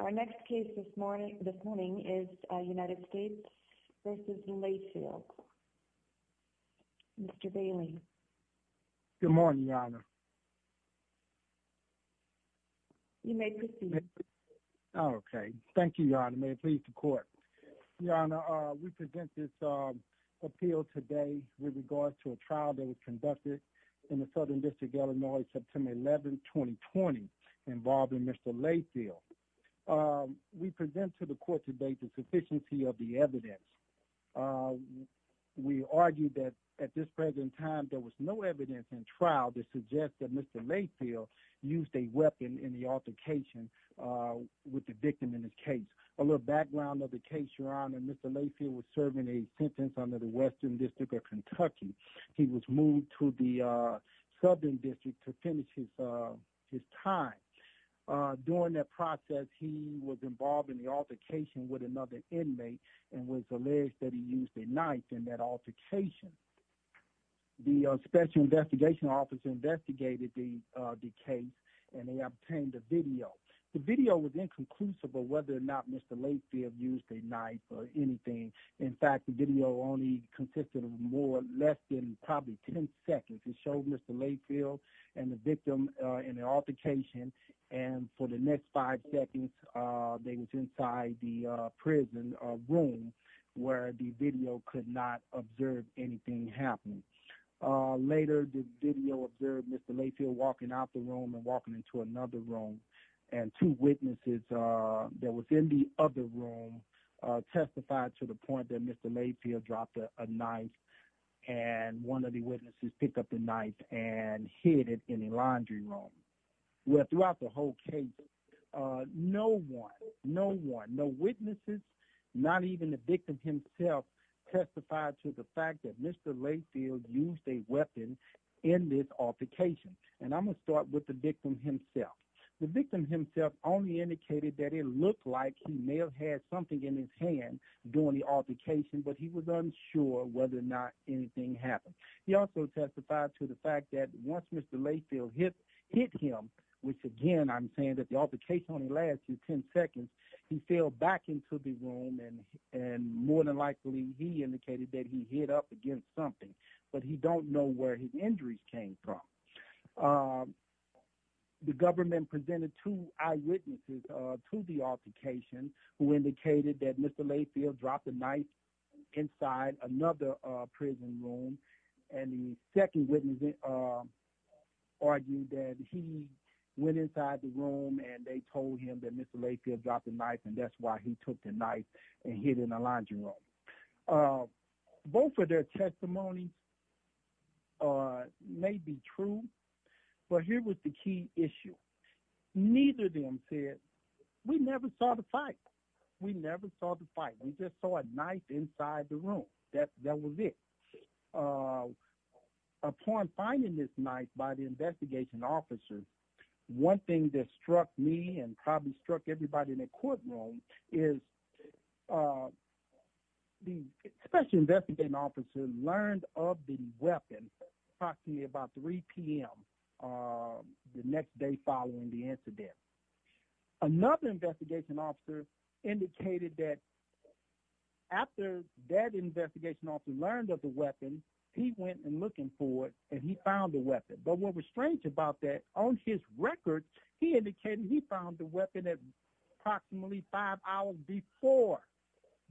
Our next case this morning is United States v. Layfield. Mr. Bailey. Good morning, Your Honor. You may proceed. Okay. Thank you, Your Honor. May it please the Court. Your Honor, we present this appeal today with regards to a trial that was conducted in the Southern District, Illinois, September 11, 2020, involving Mr. Layfield. We present to the Court today the sufficiency of the evidence. We argue that at this present time there was no evidence in trial to suggest that Mr. Layfield used a weapon in the altercation with the victim in this case. A little background of the case, Your Honor. Mr. Layfield was serving a sentence under the Western District of Kentucky. He was moved to the Southern District to finish his time. During that process, he was involved in the altercation with another inmate and was alleged that he used a knife in that altercation. The Special Investigation Office investigated the case and they obtained a video. The video was inconclusive of whether or not Mr. Layfield used a knife or anything. In fact, the video only consisted of more or less than probably ten seconds. It showed Mr. Layfield and the victim in the altercation, and for the next five seconds, they was inside the prison room where the video could not observe anything happening. Later, the video observed Mr. Layfield walking out the room and walking into another room, and two witnesses that was in the other room testified to the point that Mr. Layfield dropped a knife and one of the witnesses picked up the knife and hid it in the laundry room. Well, throughout the whole case, no one, no witnesses, not even the victim himself, testified to the fact that Mr. Layfield used a weapon in this altercation. And I'm going to start with the victim himself. The victim himself only indicated that it looked like he may have had something in his hand during the altercation, but he was unsure whether or not anything happened. He also testified to the fact that once Mr. Layfield hit him, which again I'm saying that the altercation only lasted ten seconds, he fell back into the room and more than likely he indicated that he hit up against something, but he don't know where his injuries came from. The government presented two eyewitnesses to the altercation who indicated that Mr. Layfield dropped a knife inside another prison room, and the second witness argued that he went inside the room and they told him that Mr. Layfield dropped a knife and that's why he took the knife and hid it in the laundry room. Both of their testimonies may be true, but here was the key issue. Neither of them said, we never saw the fight. We never saw the fight. We just saw a knife inside the room. That was it. Upon finding this knife by the investigation officer, one thing that struck me and probably struck everybody in the courtroom is the special investigation officer learned of the weapon approximately about 3 p.m. the next day following the incident. Another investigation officer indicated that after that investigation officer learned of the weapon, he went and looked for it and he found the weapon. But what was strange about that, on his record, he indicated he found the weapon at approximately five hours before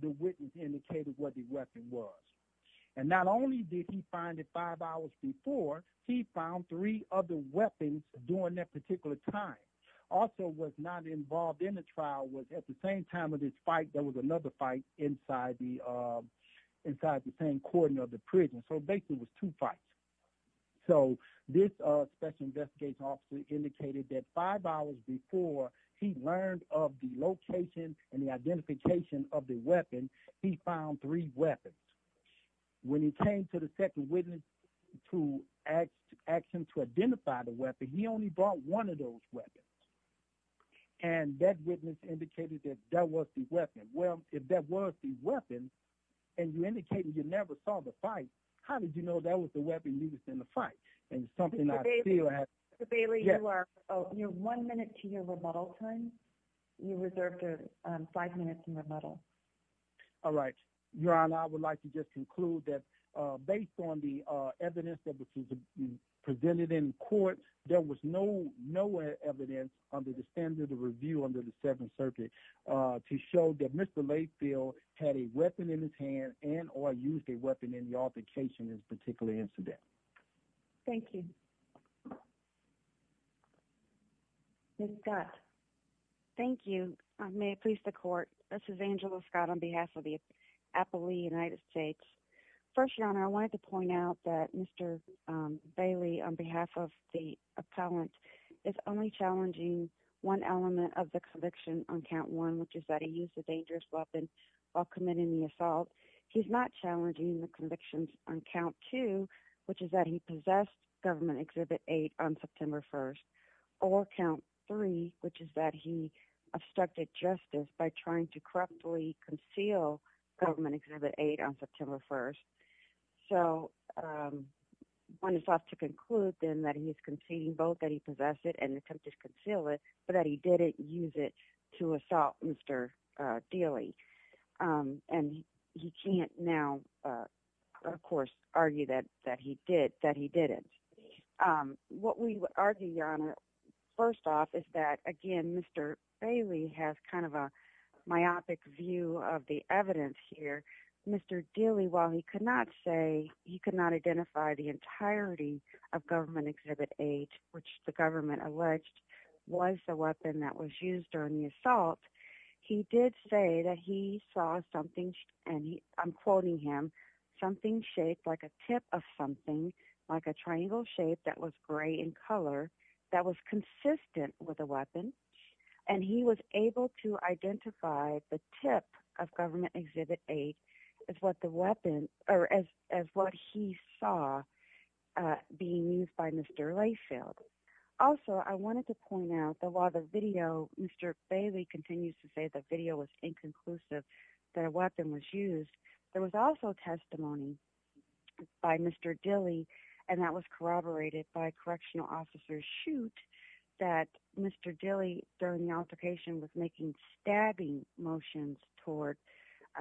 the witness indicated what the weapon was. And not only did he find it five hours before, he found three other weapons during that particular time. Also was not involved in the trial was at the same time of this fight, there was another fight inside the same courting of the prison. So basically it was two fights. So this special investigation officer indicated that five hours before he learned of the location and the identification of the weapon, he found three weapons. When he came to the second witness to ask him to identify the weapon, he only brought one of those weapons. And that witness indicated that that was the weapon. Well, if that was the weapon, and you indicated you never saw the fight, how did you know that was the weapon used in the fight? And it's something I feel that... Mr. Bailey, you are one minute to your remodel time. You reserved five minutes to remodel. All right. Your Honor, I would like to just conclude that based on the evidence that was presented in court, there was no evidence under the standard of review under the Seventh Circuit to show that Mr. Layfield had a weapon in his hand and or used a weapon in the altercation in this particular incident. Thank you. Ms. Scott. Thank you. May it please the court. This is Angela Scott on behalf of the Appalooh United States. First, Your Honor, I wanted to point out that Mr. Bailey, on behalf of the appellant, is only challenging one element of the conviction on count one, which is that he used a dangerous weapon while committing the assault. He's not challenging the convictions on count two, which is that he possessed Government Exhibit 8 on September 1st, or count three, which is that he obstructed justice by trying to corruptly conceal Government Exhibit 8 on September 1st. So one is left to conclude then that he is conceding both that he possessed it and attempted to conceal it, but that he didn't use it to assault Mr. Daly. And he can't now, of course, argue that he did, that he didn't. What we argue, Your Honor, first off, is that, again, Mr. Bailey has kind of a myopic view of the evidence here. Mr. Daly, while he could not say he could not identify the entirety of Government Exhibit 8, which the government alleged was the weapon that was used during the assault, he did say that he saw something, and I'm quoting him, something shaped like a tip of something, like a triangle shape that was gray in color, that was consistent with a weapon, and he was able to identify the tip of Government Exhibit 8 as what he saw being used by Mr. Layfield. Also, I wanted to point out that while the video, Mr. Bailey continues to say the video was inconclusive, that a weapon was used, there was also testimony by Mr. Daly, and that was corroborated by Correctional Officer Shute, that Mr. Daly, during the altercation, was making stabbing motions toward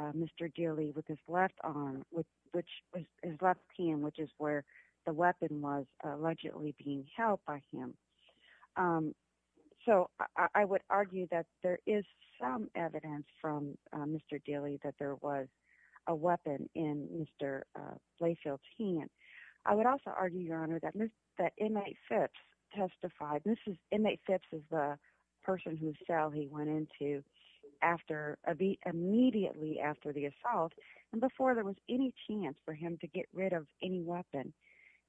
Mr. Daly with his left arm, his left hand, which is where the weapon was allegedly being held by him. So, I would argue that there is some evidence from Mr. Daly that there was a weapon in Mr. Layfield's hand. I would also argue, Your Honor, that Inmate Phipps testified, and this is, Inmate Phipps is the person whose cell he went into immediately after the assault, and before there was any chance for him to get rid of any weapon.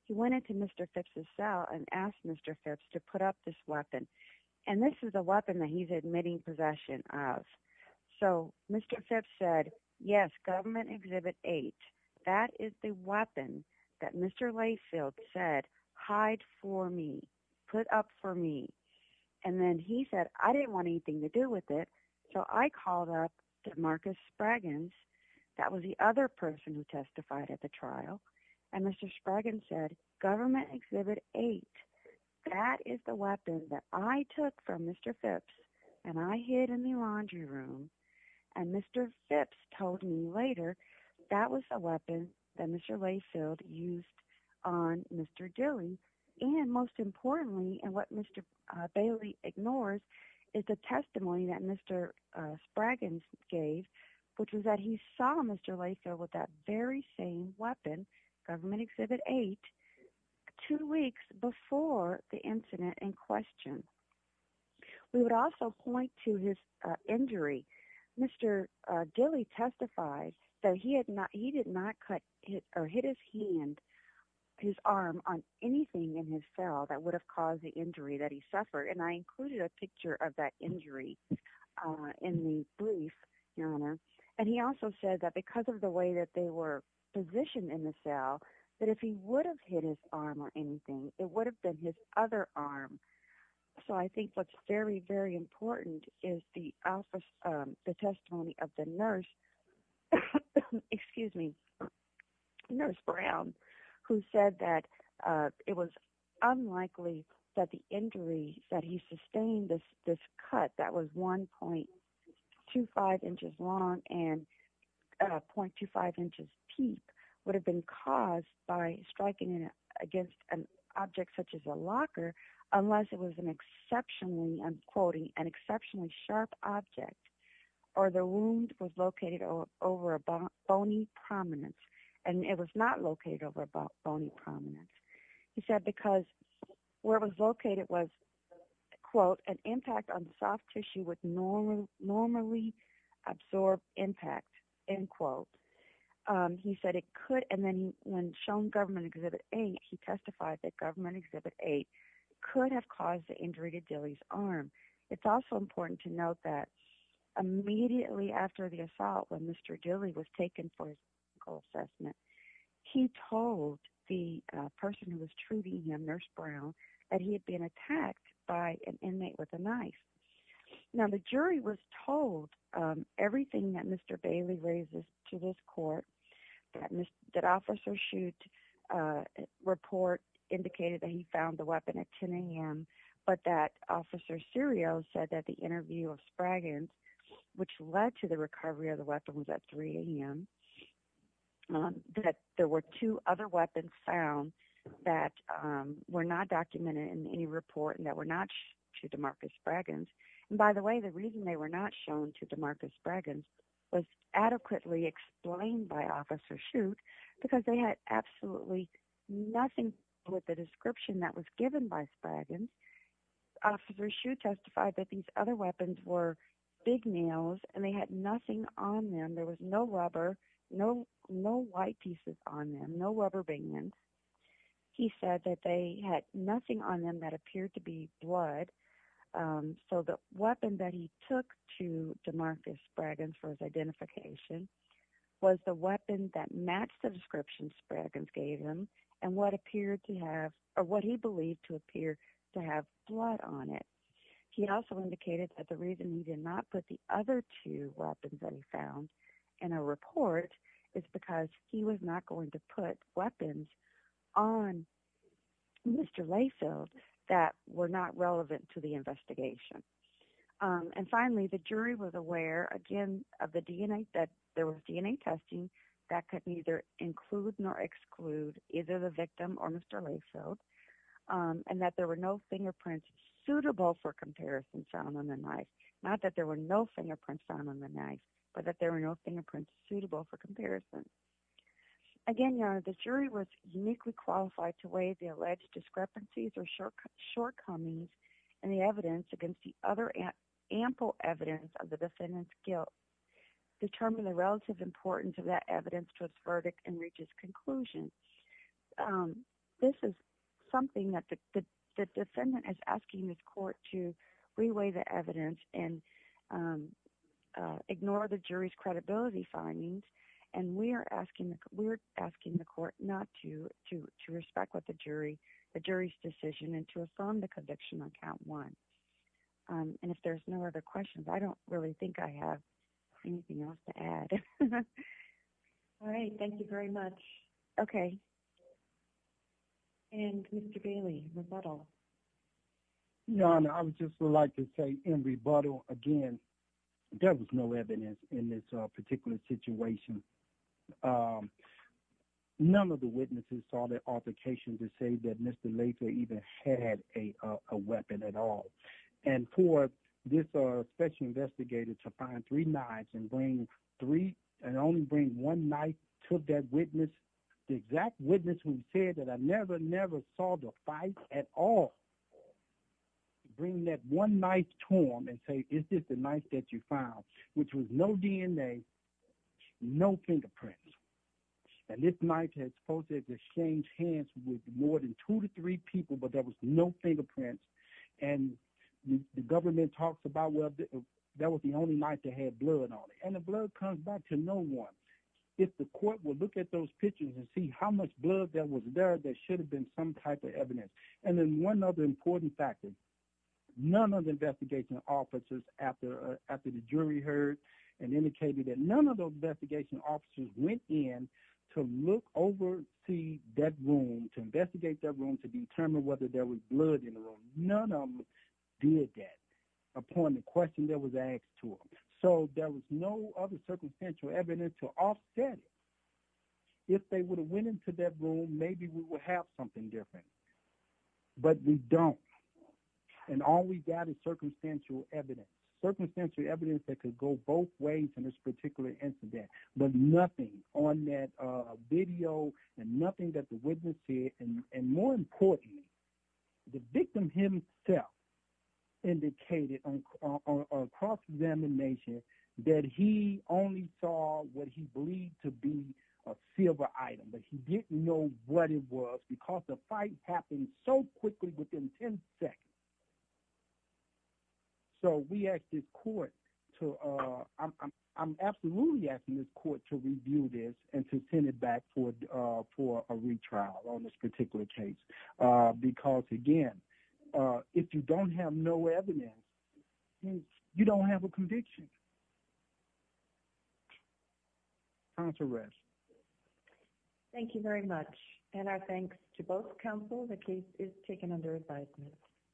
He went into Mr. Phipps' cell and asked Mr. Phipps to put up this weapon, and this is the weapon that he's admitting possession of. So, Mr. Phipps said, yes, Government Exhibit 8, that is the weapon that Mr. Layfield said, hide for me, put up for me, and then he said, I didn't want anything to do with it, so I called up Marcus Spragans, that was the other person who testified at the trial, and Mr. Spragans said, Government Exhibit 8, that is the weapon that I took from Mr. Phipps, and I hid in the laundry room, and Mr. Phipps told me later, that was the weapon that Mr. Layfield used on Mr. Daly, and most importantly, and what Mr. Daly ignores, is the testimony that Mr. Spragans gave, which was that he saw Mr. Layfield with that very same weapon, Government Exhibit 8, two weeks before the incident in question. We would also point to his injury. Mr. Daly testified that he did not hit his hand, his arm, on anything in his cell that would have caused the injury that he suffered, and I included a picture of that injury in the brief, and he also said that because of the way that they were positioned in the cell, that if he would have hit his arm on anything, it would have been his other arm. So I think what's very, very important is the testimony of the nurse, excuse me, Nurse Brown, who said that it was unlikely that the injury that he sustained, this cut that was 1.25 inches long and 0.25 inches deep, would have been caused by striking against an object such as a locker, unless it was an exceptionally, I'm quoting, an exceptionally sharp object, or the wound was located over a bony prominence, and it was not located over a bony prominence. He said because where it was located was, quote, an impact on soft tissue would normally absorb impact, end quote. He said it could, and then when shown Government Exhibit 8, he testified that Government Exhibit 8 could have caused the injury to Dilley's arm. It's also important to note that immediately after the assault, when Mr. Dilley was taken for his medical assessment, he told the person who was treating him, Nurse Brown, that he had been attacked by an inmate with a knife. Now, the jury was told everything that Mr. Bailey raises to this court, that officer's shoot report indicated that he found the weapon at 10 a.m., but that Officer Serio said that the interview of Spragans, which led to the recovery of the weapon, was at 3 a.m., that there were two other weapons found that were not documented in any report and that were not shown to DeMarcus Spragans. And by the way, the reason they were not shown to DeMarcus Spragans was adequately explained by Officer Shute because they had absolutely nothing with the description that was given by Spragans. Officer Shute testified that these other weapons were big nails and they had nothing on them. There was no rubber, no white pieces on them, no rubber band. He said that they had nothing on them that appeared to be blood, so the weapon that he took to DeMarcus Spragans for his identification was the weapon that matched the description Spragans gave him and what he believed to appear to have blood on it. He also indicated that the reason he did not put the other two weapons that he found in a report is because he was not going to put weapons on Mr. Layfield that were not relevant to the investigation. And finally, the jury was aware, again, of the DNA, that there was DNA testing that could neither include nor exclude either the victim or Mr. Layfield and that there were no fingerprints suitable for comparison found on the knife. Not that there were no fingerprints found on the knife, but that there were no fingerprints suitable for comparison. Again, Your Honor, the jury was uniquely qualified to weigh the alleged discrepancies or shortcomings in the evidence against the other ample evidence of the defendant's guilt, determine the relative importance of that evidence to its verdict, and reach its conclusion. This is something that the defendant is asking this court to reweigh the evidence and ignore the jury's credibility findings, and we're asking the court not to respect the jury's decision and to affirm the conviction on count one. And if there's no other questions, I don't really think I have anything else to add. All right. Thank you very much. Okay. And Mr. Bailey, rebuttal. Your Honor, I would just like to say in rebuttal, again, there was no evidence in this particular situation. None of the witnesses saw the altercation to say that Mr. Layfield even had a weapon at all. And for this special investigator to find three knives and only bring one knife to that witness, the exact witness who said that I never, never saw the fight at all, bring that one knife to him and say, is this the knife that you found, which was no DNA, no fingerprints. And this knife had supposed to have exchanged hands with more than two to three people, but there was no fingerprints. And the government talks about, well, that was the only knife that had blood on it. And the blood comes back to no one. If the court would look at those pictures and see how much blood that was there, there should have been some type of evidence. And then one other important factor, none of the investigation officers after the jury heard and indicated that none of those investigation officers went in to look over to that room, to investigate that room, to determine whether there was blood in the room. None of them did that upon the question that was asked to them. So there was no other circumstantial evidence to offset it. If they would have went into that room, maybe we would have something different. But we don't. And all we've got is circumstantial evidence, circumstantial evidence that could go both ways in this particular incident, but nothing on that video and nothing that the witness said. And more importantly, the victim himself indicated on cross-examination that he only saw what he believed to be a silver item, but he didn't know what it was because the fight happened so quickly within 10 seconds. So we asked this court to – I'm absolutely asking this court to review this and to send it back for a retrial on this particular case because, again, if you don't have no evidence, you don't have a conviction. Counselor Resch. Thank you very much. And our thanks to both counsel. The case is taken under advisement.